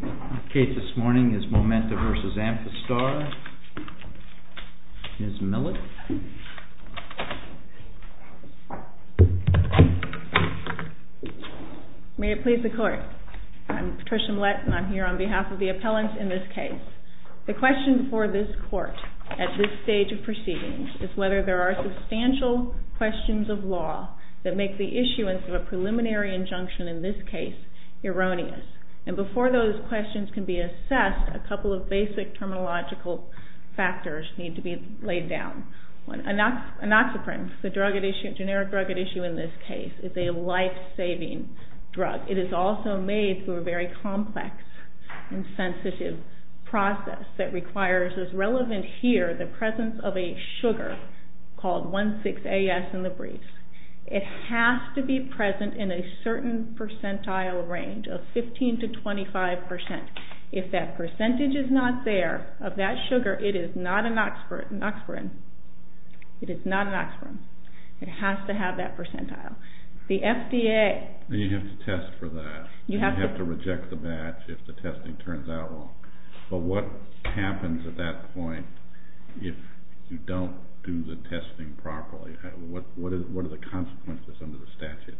The case this morning is MOMENTA v. AMPHASTAR. Ms. Millett. May it please the Court. I'm Patricia Millett and I'm here on behalf of the appellants in this case. The question for this Court at this stage of proceedings is whether there are substantial questions of law that make the issuance of a preliminary injunction in this case erroneous. And before those questions can be assessed, a couple of basic terminological factors need to be laid down. Anoxoprine, the generic drug at issue in this case, is a life-saving drug. It is also made through a very complex and sensitive process that requires, as relevant here, the presence of a sugar called 1,6-AS in the briefs. It has to be present in a certain percentile range of 15 to 25 percent. If that percentage is not there, of that sugar, it is not anoxoprine. It is not anoxoprine. It has to have that percentile. The FDA... You have to test for that. You have to reject the batch if the testing turns out wrong. But what happens at that point if you don't do the testing properly? What are the consequences under the statute?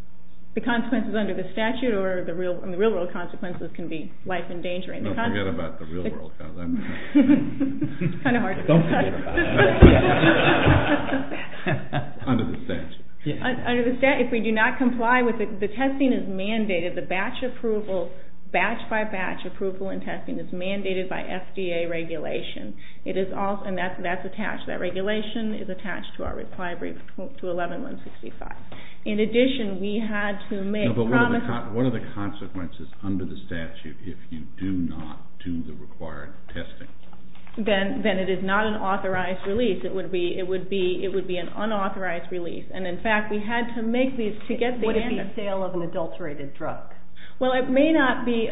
The consequences under the statute or the real-world consequences can be life-endangering. No, forget about the real-world consequences. It's kind of hard. Don't forget. Under the statute. Under the statute, if we do not comply with it, the testing is mandated. The batch approval, batch-by-batch approval in testing is mandated by FDA regulation. It is also... And that's attached. That regulation is attached to our reply brief to 11-165. In addition, we had to make promises... No, but what are the consequences under the statute if you do not do the required testing? Then it is not an authorized release. It would be an unauthorized release. And, in fact, we had to make these to get the answer. What about the sale of an adulterated drug? Well, it may not be...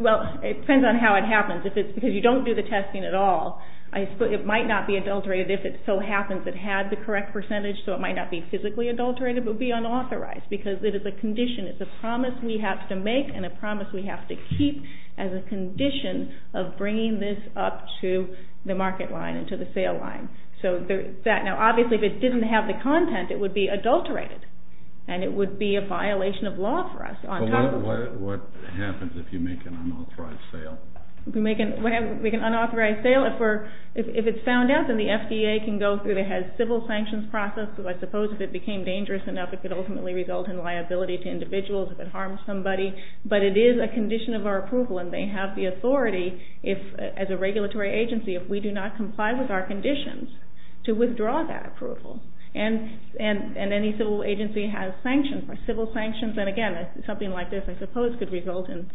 Well, it depends on how it happens. Because you don't do the testing at all, it might not be adulterated. If it so happens it had the correct percentage, so it might not be physically adulterated, but it would be unauthorized because it is a condition. It's a promise we have to make and a promise we have to keep as a condition of bringing this up to the market line and to the sale line. Now, obviously, if it didn't have the content, it would be adulterated, and it would be a violation of law for us. But what happens if you make an unauthorized sale? We can make an unauthorized sale. If it's found out, then the FDA can go through the civil sanctions process, because I suppose if it became dangerous enough, it could ultimately result in liability to individuals if it harms somebody. But it is a condition of our approval, and they have the authority, as a regulatory agency, if we do not comply with our conditions, to withdraw that approval. And any civil agency has sanctions, civil sanctions, and again, something like this, I suppose, could result in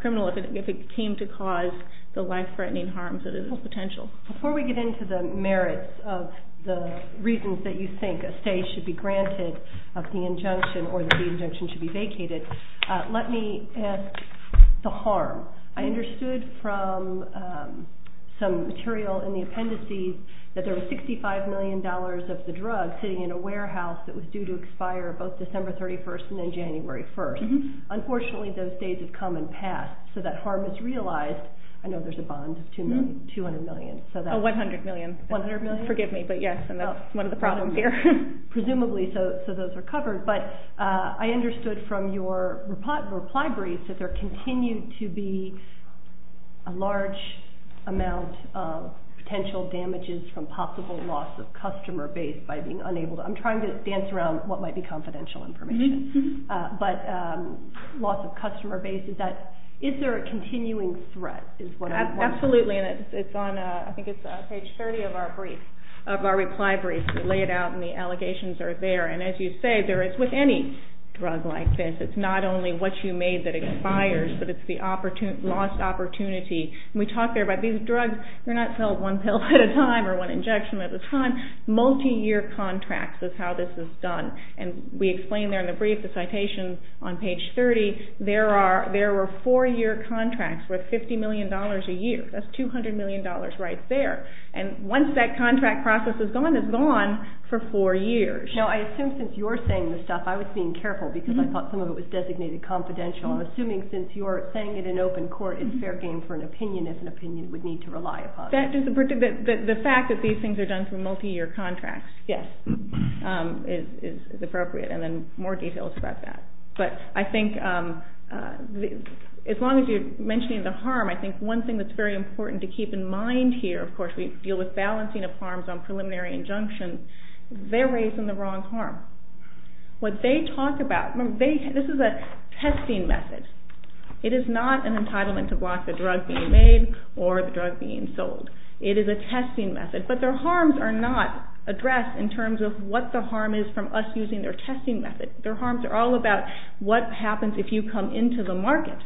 criminal if it came to cause the life-threatening harms that it has potential. Before we get into the merits of the reasons that you think a stay should be granted of the injunction or that the injunction should be vacated, let me ask the harm. I understood from some material in the appendices that there was $65 million of the drug sitting in a warehouse that was due to expire both December 31st and then January 1st. Unfortunately, those days have come and passed, so that harm is realized. I know there's a bond of $200 million. Oh, $100 million. $100 million? Forgive me, but yes, and that's one of the problems here. Presumably, so those are covered. But I understood from your reply brief that there continued to be a large amount of potential damages from possible loss of customer base by being unable to. I'm trying to dance around what might be confidential information. But loss of customer base, is there a continuing threat is what I'm wondering. Absolutely, and I think it's on page 30 of our reply brief. We lay it out, and the allegations are there. And as you say, with any drug like this, it's not only what you made that expires, but it's the lost opportunity. And we talk there about these drugs, they're not sold one pill at a time or one injection at a time. Multi-year contracts is how this is done. And we explain there in the brief, the citation on page 30, there were four-year contracts worth $50 million a year. That's $200 million right there. And once that contract process is gone, it's gone for four years. Now, I assume since you're saying this stuff, I was being careful because I thought some of it was designated confidential. I'm assuming since you're saying it in open court, it's fair game for an opinion if an opinion would need to rely upon it. The fact that these things are done through multi-year contracts, yes, is appropriate, and then more details about that. But I think as long as you're mentioning the harm, I think one thing that's very important to keep in mind here, of course we deal with balancing of harms on preliminary injunction, they're raising the wrong harm. What they talk about, this is a testing method. It is not an entitlement to block the drug being made or the drug being sold. It is a testing method, but their harms are not addressed in terms of what the harm is from us using their testing method. Their harms are all about what happens if you come into the market.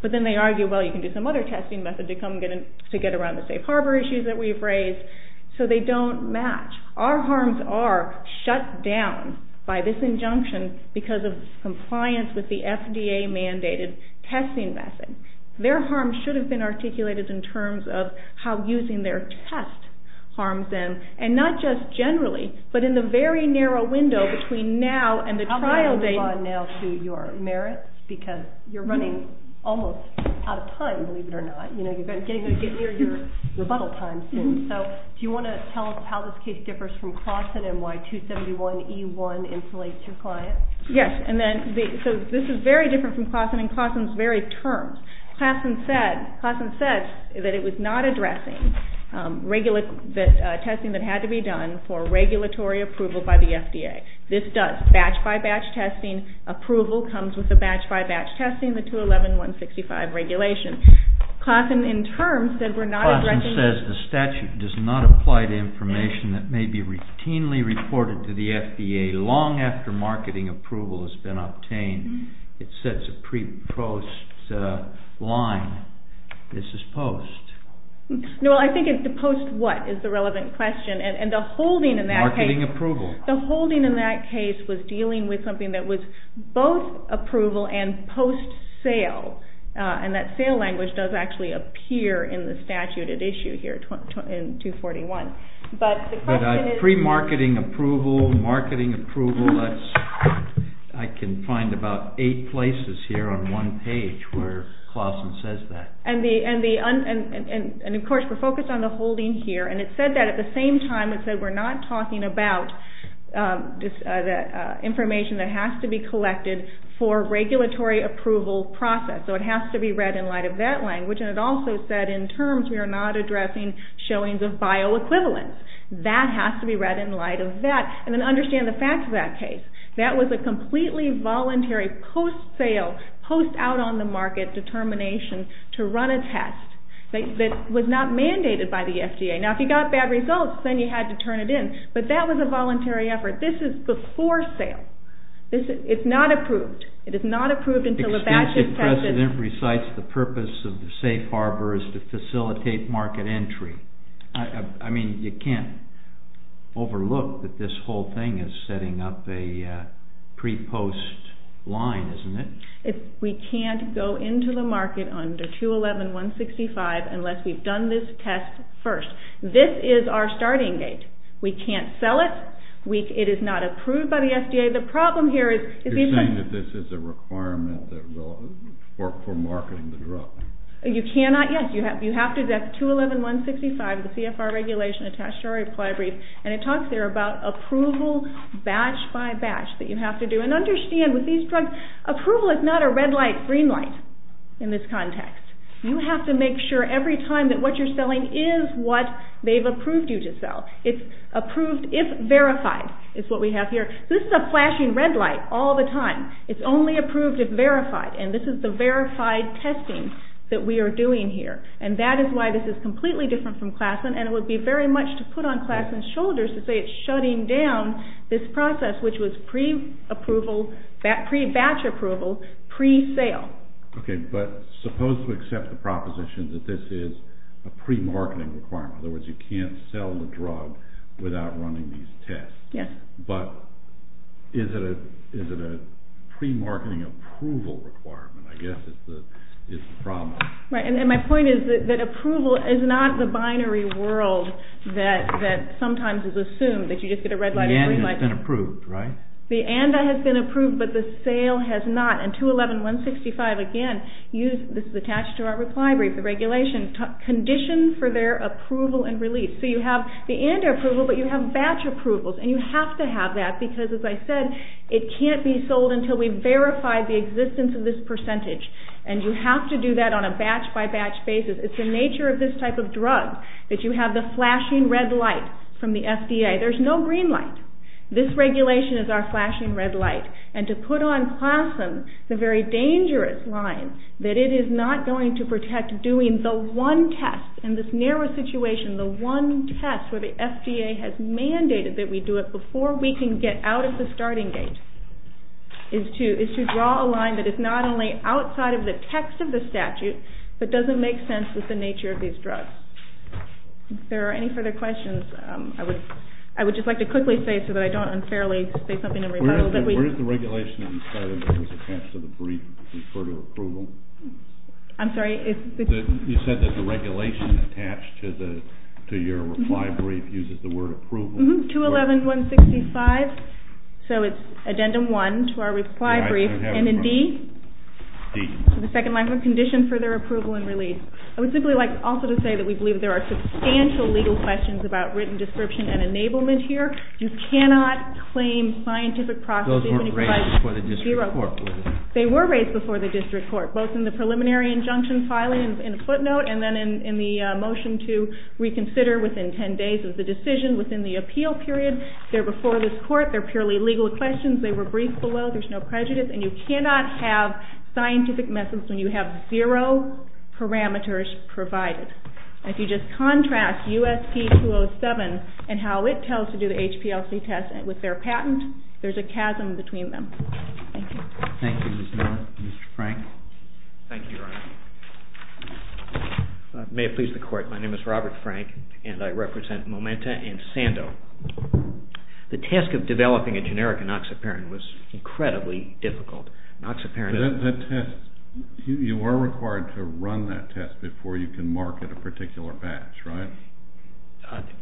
But then they argue, well, you can do some other testing method to get around the safe harbor issues that we've raised. So they don't match. Our harms are shut down by this injunction because of compliance with the FDA-mandated testing method. Their harms should have been articulated in terms of how using their test harms them, and not just generally, but in the very narrow window between now and the trial date. How about we move on now to your merits, because you're running almost out of time, believe it or not. You're going to get near your rebuttal time soon. So do you want to tell us how this case differs from Clawson and why 271E1 insulates your client? Yes. So this is very different from Clawson in Clawson's very terms. Clawson said that it was not addressing testing that had to be done for regulatory approval by the FDA. This does batch-by-batch testing. Approval comes with the batch-by-batch testing, the 211.165 regulation. Clawson, in terms, said we're not addressing... Clawson says the statute does not apply to information that may be routinely reported to the FDA long after marketing approval has been obtained. It sets a pre-post line. This is post. No, I think it's the post what is the relevant question, and the holding in that case... Marketing approval. The holding in that case was dealing with something that was both approval and post-sale, and that sale language does actually appear in the statute at issue here in 241. But the question is... But pre-marketing approval, marketing approval, I can find about eight places here on one page where Clawson says that. And, of course, we're focused on the holding here, and it said that at the same time it said we're not talking about information that has to be collected for regulatory approval process. So it has to be read in light of that language, and it also said in terms we are not addressing showings of bioequivalence. That has to be read in light of that. And then understand the facts of that case. That was a completely voluntary post-sale, post-out-on-the-market determination to run a test that was not mandated by the FDA. Now, if you got bad results, then you had to turn it in, but that was a voluntary effort. This is before sale. It's not approved. It is not approved until a batch is tested. Extensive precedent recites the purpose of the safe harbor is to facilitate market entry. I mean, you can't overlook that this whole thing is setting up a pre-post line, isn't it? We can't go into the market under 211.165 unless we've done this test first. This is our starting gate. We can't sell it. It is not approved by the FDA. The problem here is you can't. You're saying that this is a requirement for marketing the drug. You cannot. Yes, you have to. That's 211.165, the CFR regulation attached to our reply brief, and it talks there about approval batch by batch that you have to do. And understand with these drugs, approval is not a red light, green light in this context. You have to make sure every time that what you're selling is what they've approved you to sell. It's approved if verified is what we have here. This is a flashing red light all the time. It's only approved if verified, and this is the verified testing that we are doing here. And that is why this is completely different from Klassen, and it would be very much to put on Klassen's shoulders to say it's shutting down this process, which was pre-approval, pre-batch approval, pre-sale. Okay, but suppose we accept the proposition that this is a pre-marketing requirement. In other words, you can't sell the drug without running these tests. Yes. But is it a pre-marketing approval requirement? I guess it's the problem. Right, and my point is that approval is not the binary world that sometimes is assumed, that you just get a red light, a green light. The and has been approved, right? The and has been approved, but the sale has not. And 211.165, again, this is attached to our reply brief, the regulation, conditions for their approval and release. So you have the and approval, but you have batch approvals, and you have to have that because, as I said, it can't be sold until we've verified the existence of this percentage, and you have to do that on a batch-by-batch basis. It's the nature of this type of drug that you have the flashing red light from the FDA. There's no green light. This regulation is our flashing red light. And to put on plasm, the very dangerous line, that it is not going to protect doing the one test in this narrow situation, the one test where the FDA has mandated that we do it before we can get out of the starting gate, is to draw a line that is not only outside of the text of the statute, but doesn't make sense with the nature of these drugs. If there are any further questions, I would just like to quickly say so that I don't unfairly say something in rebuttal. Where does the regulation that you cited that was attached to the brief refer to approval? I'm sorry. You said that the regulation attached to your reply brief uses the word approval. 211.165. So it's Addendum 1 to our reply brief. And in D? D. The second line of the condition, further approval and release. I would simply like also to say that we believe there are substantial legal questions about written description and enablement here. You cannot claim scientific processing. Those weren't raised before the district court, were they? They were raised before the district court, both in the preliminary injunction filing in a footnote and then in the motion to reconsider within ten days of the decision within the appeal period. They're before this court. They're purely legal questions. They were briefed below. There's no prejudice. And you cannot have scientific methods when you have zero parameters provided. And if you just contrast USP-207 and how it tells to do the HPLC test with their patent, there's a chasm between them. Thank you. Thank you, Ms. Miller. Mr. Frank? Thank you, Your Honor. May it please the Court, my name is Robert Frank, and I represent Momenta and Sando. The task of developing a generic enoxaparin was incredibly difficult. Enoxaparin is the test. You are required to run that test before you can market a particular batch, right?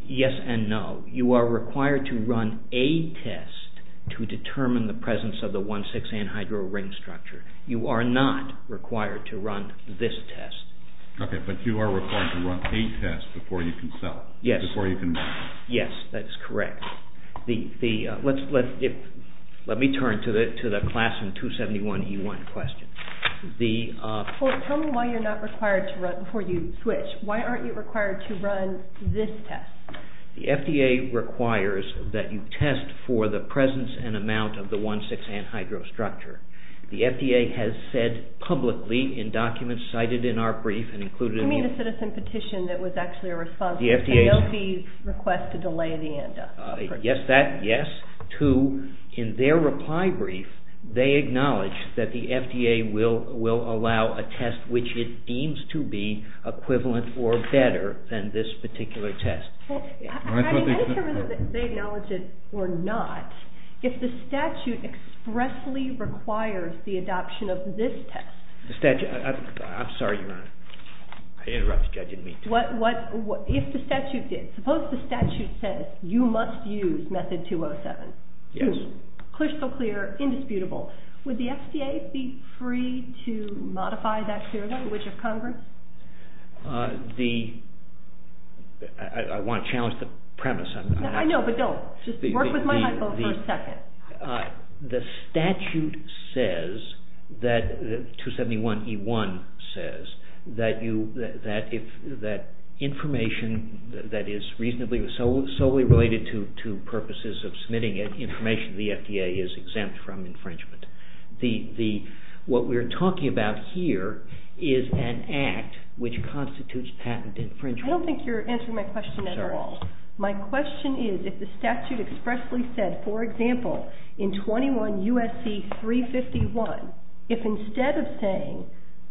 Yes and no. You are required to run a test to determine the presence of the 1,6-anhydro ring structure. You are not required to run this test. Okay, but you are required to run a test before you can sell it. Yes. Before you can market it. Yes, that is correct. Let me turn to the Classroom 271E1 question. Tell me why you're not required to run before you switch. Why aren't you required to run this test? The FDA requires that you test for the presence and amount of the 1,6-anhydro structure. The FDA has said publicly in documents cited in our brief and included in the- I mean the citizen petition that was actually a response. And they'll be requested to lay the end up. Yes, that, yes. Two, in their reply brief, they acknowledge that the FDA will allow a test which it deems to be equivalent or better than this particular test. I don't care whether they acknowledge it or not. If the statute expressly requires the adoption of this test- I'm sorry, Your Honor. I interrupted you. I didn't mean to. If the statute did, suppose the statute says you must use method 207. Yes. Two, crystal clear, indisputable. Would the FDA be free to modify that clearly? Which of Congress? The- I want to challenge the premise. I know, but don't. Just work with my hypo for a second. The statute says that- 271E1 says that information that is solely related to purposes of submitting it, information to the FDA is exempt from infringement. What we're talking about here is an act which constitutes patent infringement. I don't think you're answering my question at all. I'm sorry. For example, in 21 U.S.C. 351, if instead of saying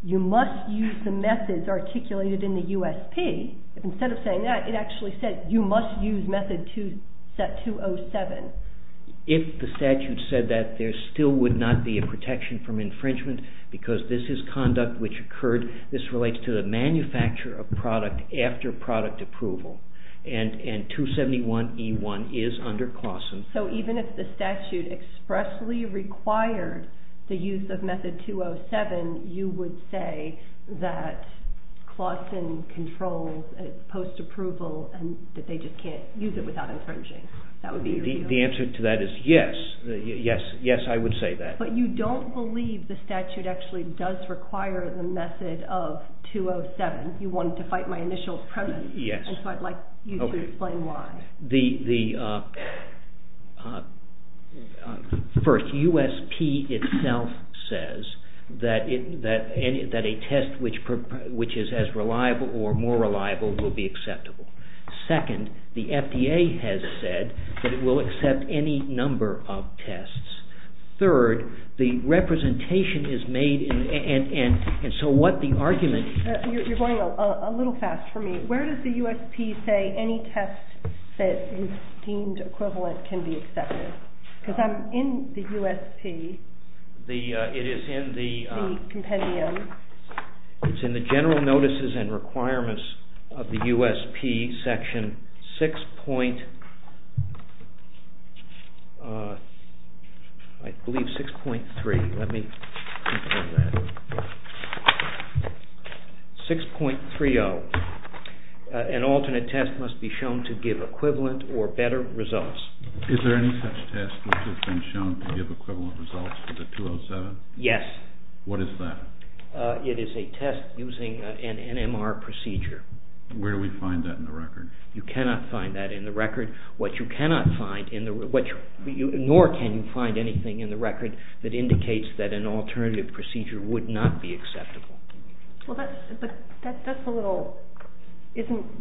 you must use the methods articulated in the USP, if instead of saying that, it actually said you must use method 207. If the statute said that, there still would not be a protection from infringement because this is conduct which occurred. This relates to the manufacture of product after product approval, and 271E1 is under CLAWSON. So even if the statute expressly required the use of method 207, you would say that CLAWSON controls post-approval and that they just can't use it without infringing. The answer to that is yes. Yes, I would say that. But you don't believe the statute actually does require the method of 207. You wanted to fight my initial premise, and so I'd like you to explain why. First, USP itself says that a test which is as reliable or more reliable will be acceptable. Second, the FDA has said that it will accept any number of tests. Third, the representation is made, and so what the argument... You're going a little fast for me. Where does the USP say any test that is deemed equivalent can be accepted? Because I'm in the USP, the compendium. It's in the General Notices and Requirements of the USP, Section 6.30. An alternate test must be shown to give equivalent or better results. Is there any such test which has been shown to give equivalent results to the 207? Yes. What is that? It is a test using an NMR procedure. Where do we find that in the record? You cannot find that in the record. Nor can you find anything in the record that indicates that an alternative procedure would not be acceptable. Well, that's a little...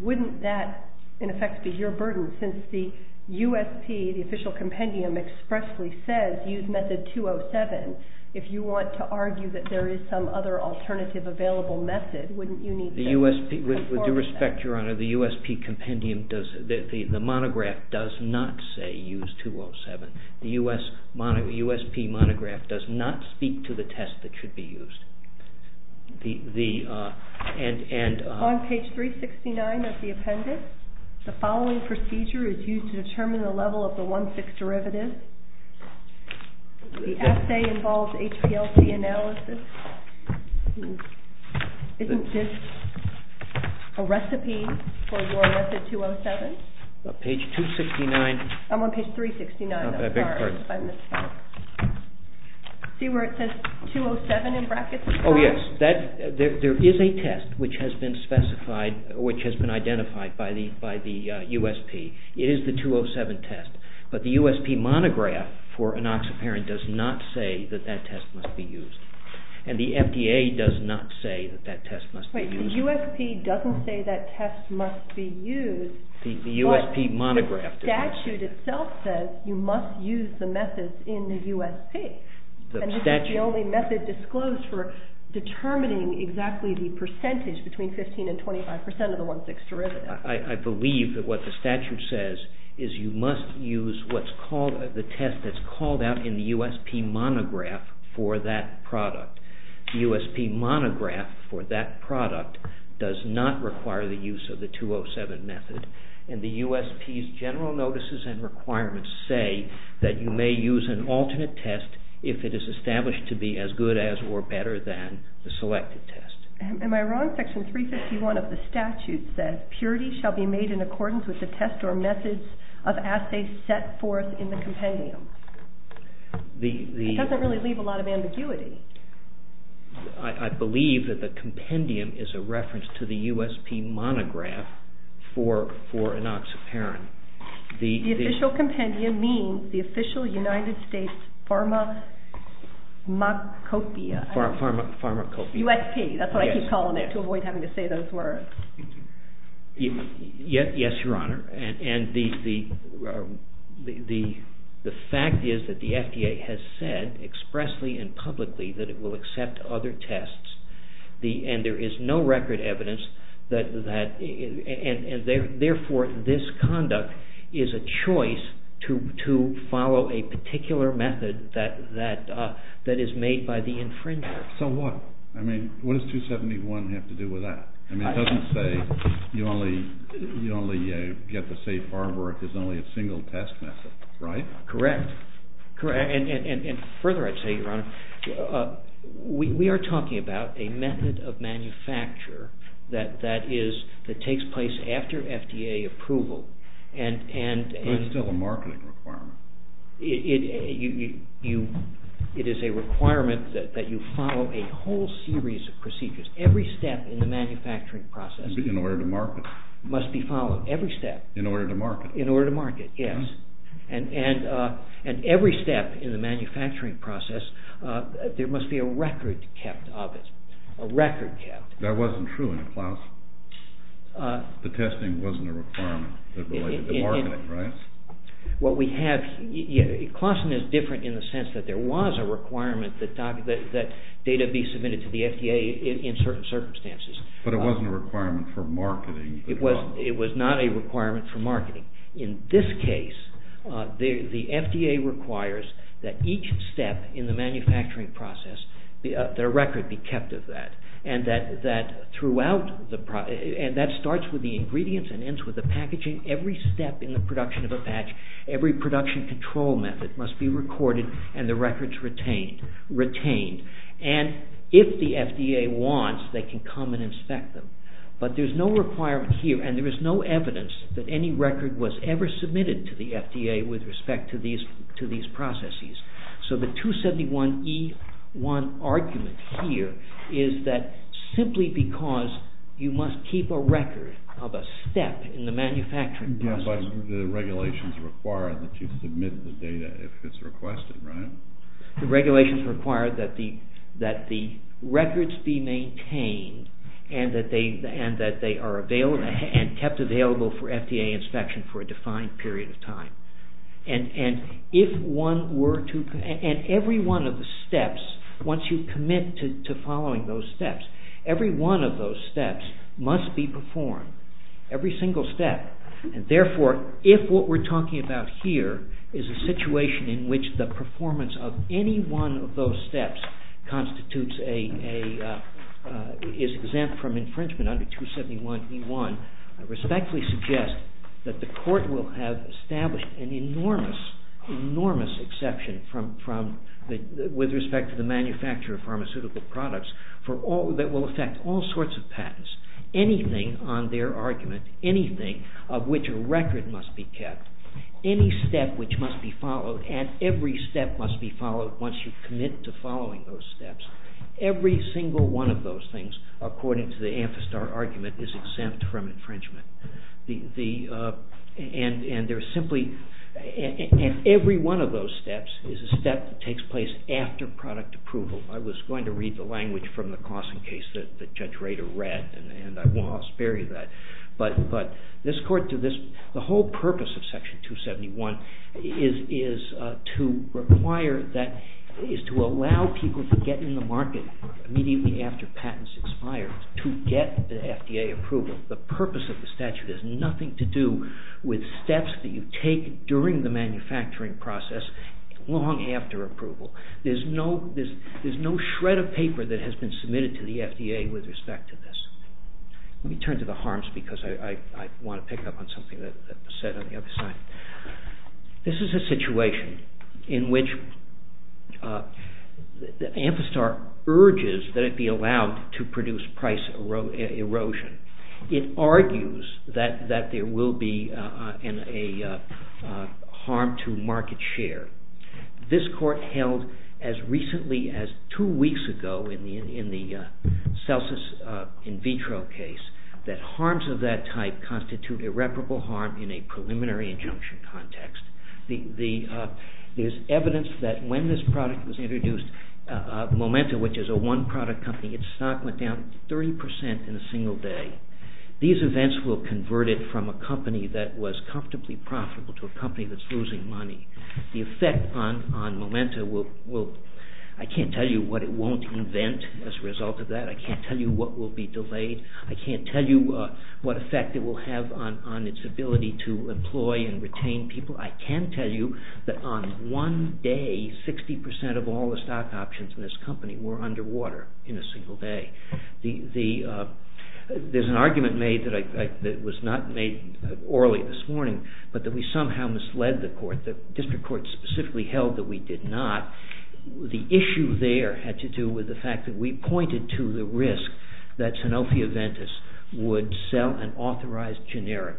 Wouldn't that, in effect, be your burden since the USP, the official compendium, expressly says, use method 207. If you want to argue that there is some other alternative available method, wouldn't you need... With due respect, Your Honor, the USP compendium does... The monograph does not say use 207. The USP monograph does not speak to the test that should be used. On page 369 of the appendix, the following procedure is used to determine the level of the 1,6 derivative. The assay involves HPLC analysis. Isn't this a recipe for your method 207? On page 269. I'm on page 369. I beg your pardon. See where it says 207 in brackets? Oh, yes. There is a test which has been specified, which has been identified by the USP. It is the 207 test. But the USP monograph for enoxaparin does not say that that test must be used. And the FDA does not say that that test must be used. The USP doesn't say that test must be used. The USP monograph does not say that. But the statute itself says you must use the method in the USP. And this is the only method disclosed for determining exactly the percentage between 15% and 25% of the 1,6 derivative. I believe that what the statute says is you must use the test that's called out in the USP monograph for that product. The USP monograph for that product does not require the use of the 207 method. And the USP's general notices and requirements say that you may use an alternate test if it is established to be as good as or better than the selected test. Am I wrong? Section 351 of the statute says purity shall be made in accordance with the test or methods of assay set forth in the compendium. It doesn't really leave a lot of ambiguity. I believe that the compendium is a reference to the USP monograph for enoxaparin. The official compendium means the official United States pharmacopoeia. Pharmacopoeia. USP. That's what I keep calling it to avoid having to say those words. Yes, Your Honor. And the fact is that the FDA has said expressly and publicly that it will accept other tests. And there is no record evidence. And, therefore, this conduct is a choice to follow a particular method that is made by the infringer. So what? I mean, what does 271 have to do with that? I mean, it doesn't say you only get the safe harbor if there's only a single test method, right? Correct. And further, I'd say, Your Honor, we are talking about a method of manufacture that takes place after FDA approval. But it's still a marketing requirement. It is a requirement that you follow a whole series of procedures. Every step in the manufacturing process must be followed. In order to market. In order to market, yes. And every step in the manufacturing process, there must be a record kept of it. A record kept. That wasn't true in Klausen. The testing wasn't a requirement that related to marketing, right? Klausen is different in the sense that there was a requirement that data be submitted to the FDA in certain circumstances. But it wasn't a requirement for marketing. It was not a requirement for marketing. In this case, the FDA requires that each step in the manufacturing process, the record be kept of that. And that starts with the ingredients and ends with the packaging. Every step in the production of a patch, every production control method must be recorded and the records retained. And if the FDA wants, they can come and inspect them. But there's no requirement here and there is no evidence that any record was ever submitted to the FDA with respect to these processes. So the 271E1 argument here is that simply because you must keep a record of a step in the manufacturing process. Yes, but the regulations require that you submit the data if it's requested, right? The regulations require that the records be maintained and that they are kept available for FDA inspection for a defined period of time. And every one of the steps, once you commit to following those steps, every one of those steps must be performed, every single step. And therefore, if what we're talking about here is a situation in which the performance of any one of those steps is exempt from infringement under 271E1, I respectfully suggest that the court will have established an enormous, enormous exception with respect to the manufacture of pharmaceutical products that will affect all sorts of patents, anything on their argument, anything of which a record must be kept, any step which must be followed, and every step must be followed once you commit to following those steps. Every single one of those things, according to the Amphistar argument, is exempt from infringement. And every one of those steps is a step that takes place after product approval. I was going to read the language from the Clawson case that Judge Rader read, and I won't spare you that. But the whole purpose of Section 271 is to allow people to get in the market immediately after patents expire to get the FDA approval. The purpose of the statute has nothing to do with steps that you take during the manufacturing process long after approval. There's no shred of paper that has been submitted to the FDA with respect to this. Let me turn to the harms because I want to pick up on something that was said on the other side. This is a situation in which Amphistar urges that it be allowed to produce price erosion. It argues that there will be a harm to market share. This court held as recently as two weeks ago in the Celsus in vitro case that harms of that type constitute irreparable harm in a preliminary injunction context. There's evidence that when this product was introduced, Momenta, which is a one product company, its stock went down 30% in a single day. These events will convert it from a company that was comfortably profitable to a company that's losing money. The effect on Momenta, I can't tell you what it won't invent as a result of that. I can't tell you what will be delayed. I can't tell you what effect it will have on its ability to employ and retain people. I can tell you that on one day, 60% of all the stock options in this company were underwater in a single day. There's an argument made that was not made orally this morning, but that we somehow misled the court. The district court specifically held that we did not. The issue there had to do with the fact that we pointed to the risk that Sanofi Aventis would sell an authorized generic.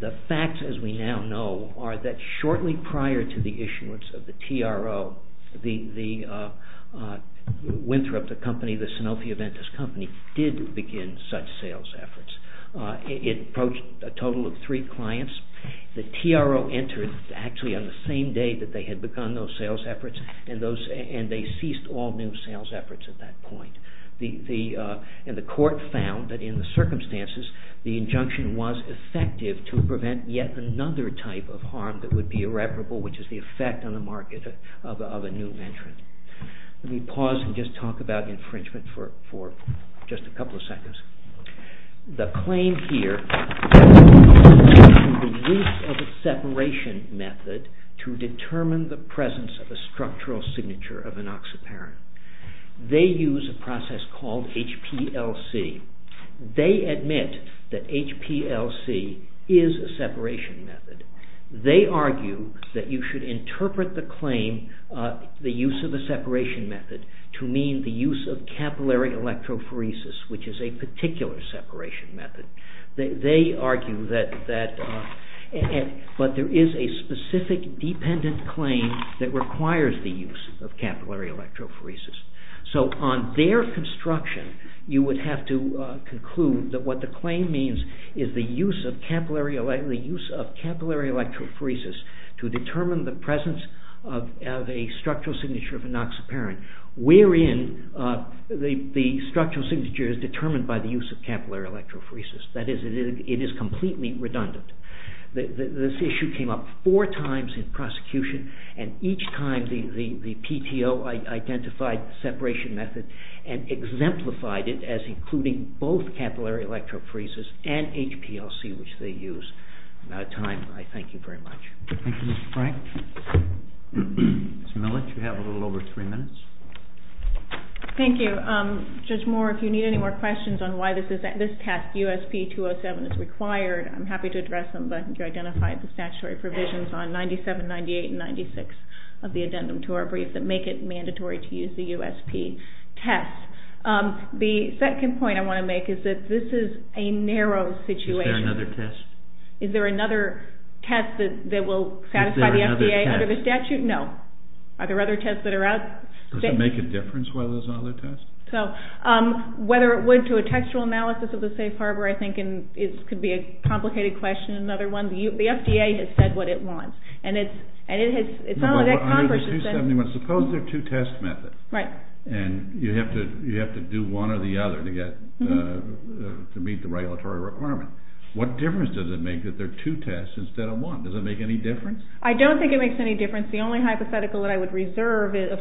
The facts, as we now know, are that shortly prior to the issuance of the TRO, Winthrop, the Sanofi Aventis company, did begin such sales efforts. It approached a total of three clients. The TRO entered actually on the same day that they had begun those sales efforts, and they ceased all new sales efforts at that point. The court found that in the circumstances, the injunction was effective to prevent yet another type of harm that would be irreparable, which is the effect on the market of a new entrant. Let me pause and just talk about infringement for just a couple of seconds. The claim here is the use of a separation method to determine the presence of a structural signature of an oxyparin. They use a process called HPLC. They admit that HPLC is a separation method. They argue that you should interpret the claim, the use of a separation method, to mean the use of capillary electrophoresis, which is a particular separation method. They argue that there is a specific dependent claim that requires the use of capillary electrophoresis. So on their construction, you would have to conclude that what the claim means is the use of capillary electrophoresis to determine the presence of a structural signature of an oxyparin, wherein the structural signature is determined by the use of capillary electrophoresis. That is, it is completely redundant. This issue came up four times in prosecution, and each time the PTO identified the separation method and exemplified it as including both capillary electrophoresis and HPLC, which they use. I'm out of time. I thank you very much. Thank you, Mr. Frank. Ms. Millich, you have a little over three minutes. Thank you. Judge Moore, if you need any more questions on why this test, USP-207, is required, I'm happy to address them. But you identified the statutory provisions on 97, 98, and 96 of the addendum to our brief that make it mandatory to use the USP test. The second point I want to make is that this is a narrow situation. Is there another test? Is there another test that will satisfy the FDA under the statute? No. Are there other tests that are out there? Does it make a difference whether there's other tests? So whether it would to a textual analysis of the safe harbor, I think, and it could be a complicated question, another one. The FDA has said what it wants, and it's not only that Congress has said— No, but under the 271, suppose there are two test methods. Right. And you have to do one or the other to get, to meet the regulatory requirement. What difference does it make that there are two tests instead of one? Does it make any difference? I don't think it makes any difference. The only hypothetical that I would reserve is—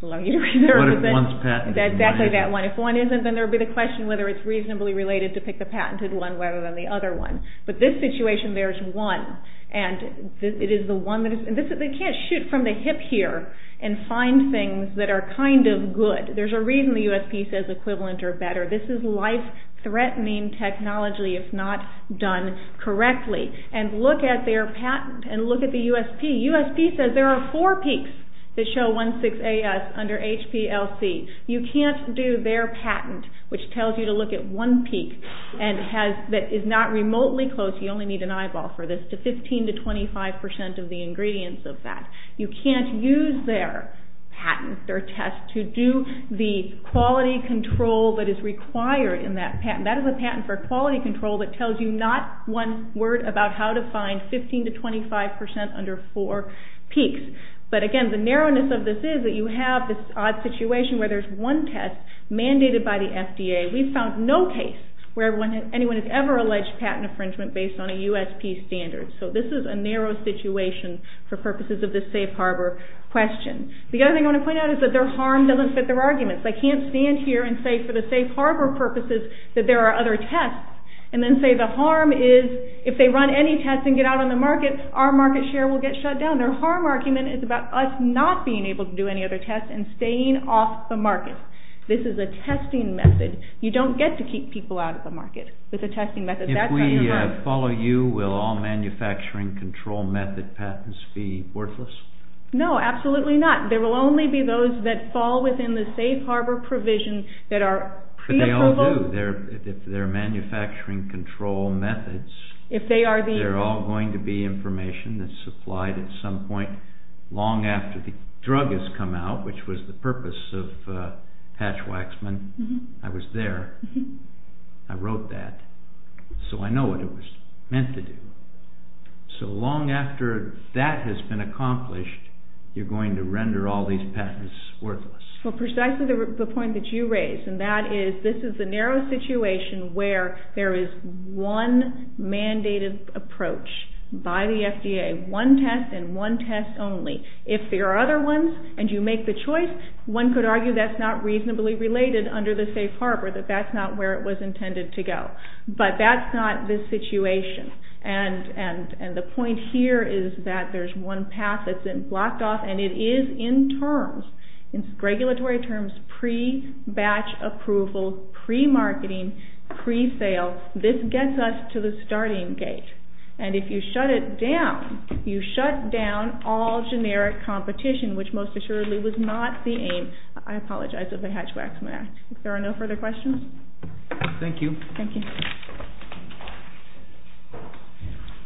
What if one's patented? Exactly that one. If one isn't, then there would be the question whether it's reasonably related to pick the patented one rather than the other one. But this situation bears one, and it is the one that is— They can't shoot from the hip here and find things that are kind of good. There's a reason the USP says equivalent or better. This is life-threatening technology if not done correctly. And look at their patent and look at the USP. USP says there are four peaks that show 1,6-AS under HPLC. You can't do their patent, which tells you to look at one peak that is not remotely close. You only need an eyeball for this, to 15 to 25 percent of the ingredients of that. You can't use their patent, their test, to do the quality control that is required in that patent. That is a patent for quality control that tells you not one word about how to find 15 to 25 percent under four peaks. But again, the narrowness of this is that you have this odd situation where there's one test mandated by the FDA. We've found no case where anyone has ever alleged patent infringement based on a USP standard. So this is a narrow situation for purposes of the safe harbor question. The other thing I want to point out is that their harm doesn't fit their arguments. They can't stand here and say for the safe harbor purposes that there are other tests and then say the harm is if they run any tests and get out on the market, our market share will get shut down. Their harm argument is about us not being able to do any other tests and staying off the market. This is a testing method. You don't get to keep people out of the market with a testing method. If we follow you, will all manufacturing control method patents be worthless? No, absolutely not. There will only be those that fall within the safe harbor provision that are pre-approval. But they all do. If they're manufacturing control methods, they're all going to be information that's supplied at some point long after the drug has come out, which was the purpose of Patch Waxman. I was there. I wrote that. So I know what it was meant to do. So long after that has been accomplished, you're going to render all these patents worthless. Well, precisely the point that you raised, and that is this is a narrow situation where there is one mandated approach by the FDA, one test and one test only. If there are other ones and you make the choice, one could argue that's not reasonably related under the safe harbor, that that's not where it was intended to go. But that's not the situation, and the point here is that there's one path that's been blocked off, and it is in terms, in regulatory terms, pre-batch approval, pre-marketing, pre-sale. This gets us to the starting gate. And if you shut it down, you shut down all generic competition, which most assuredly was not the aim, I apologize, of the Hatch Waxman Act. If there are no further questions. Thank you. Thank you.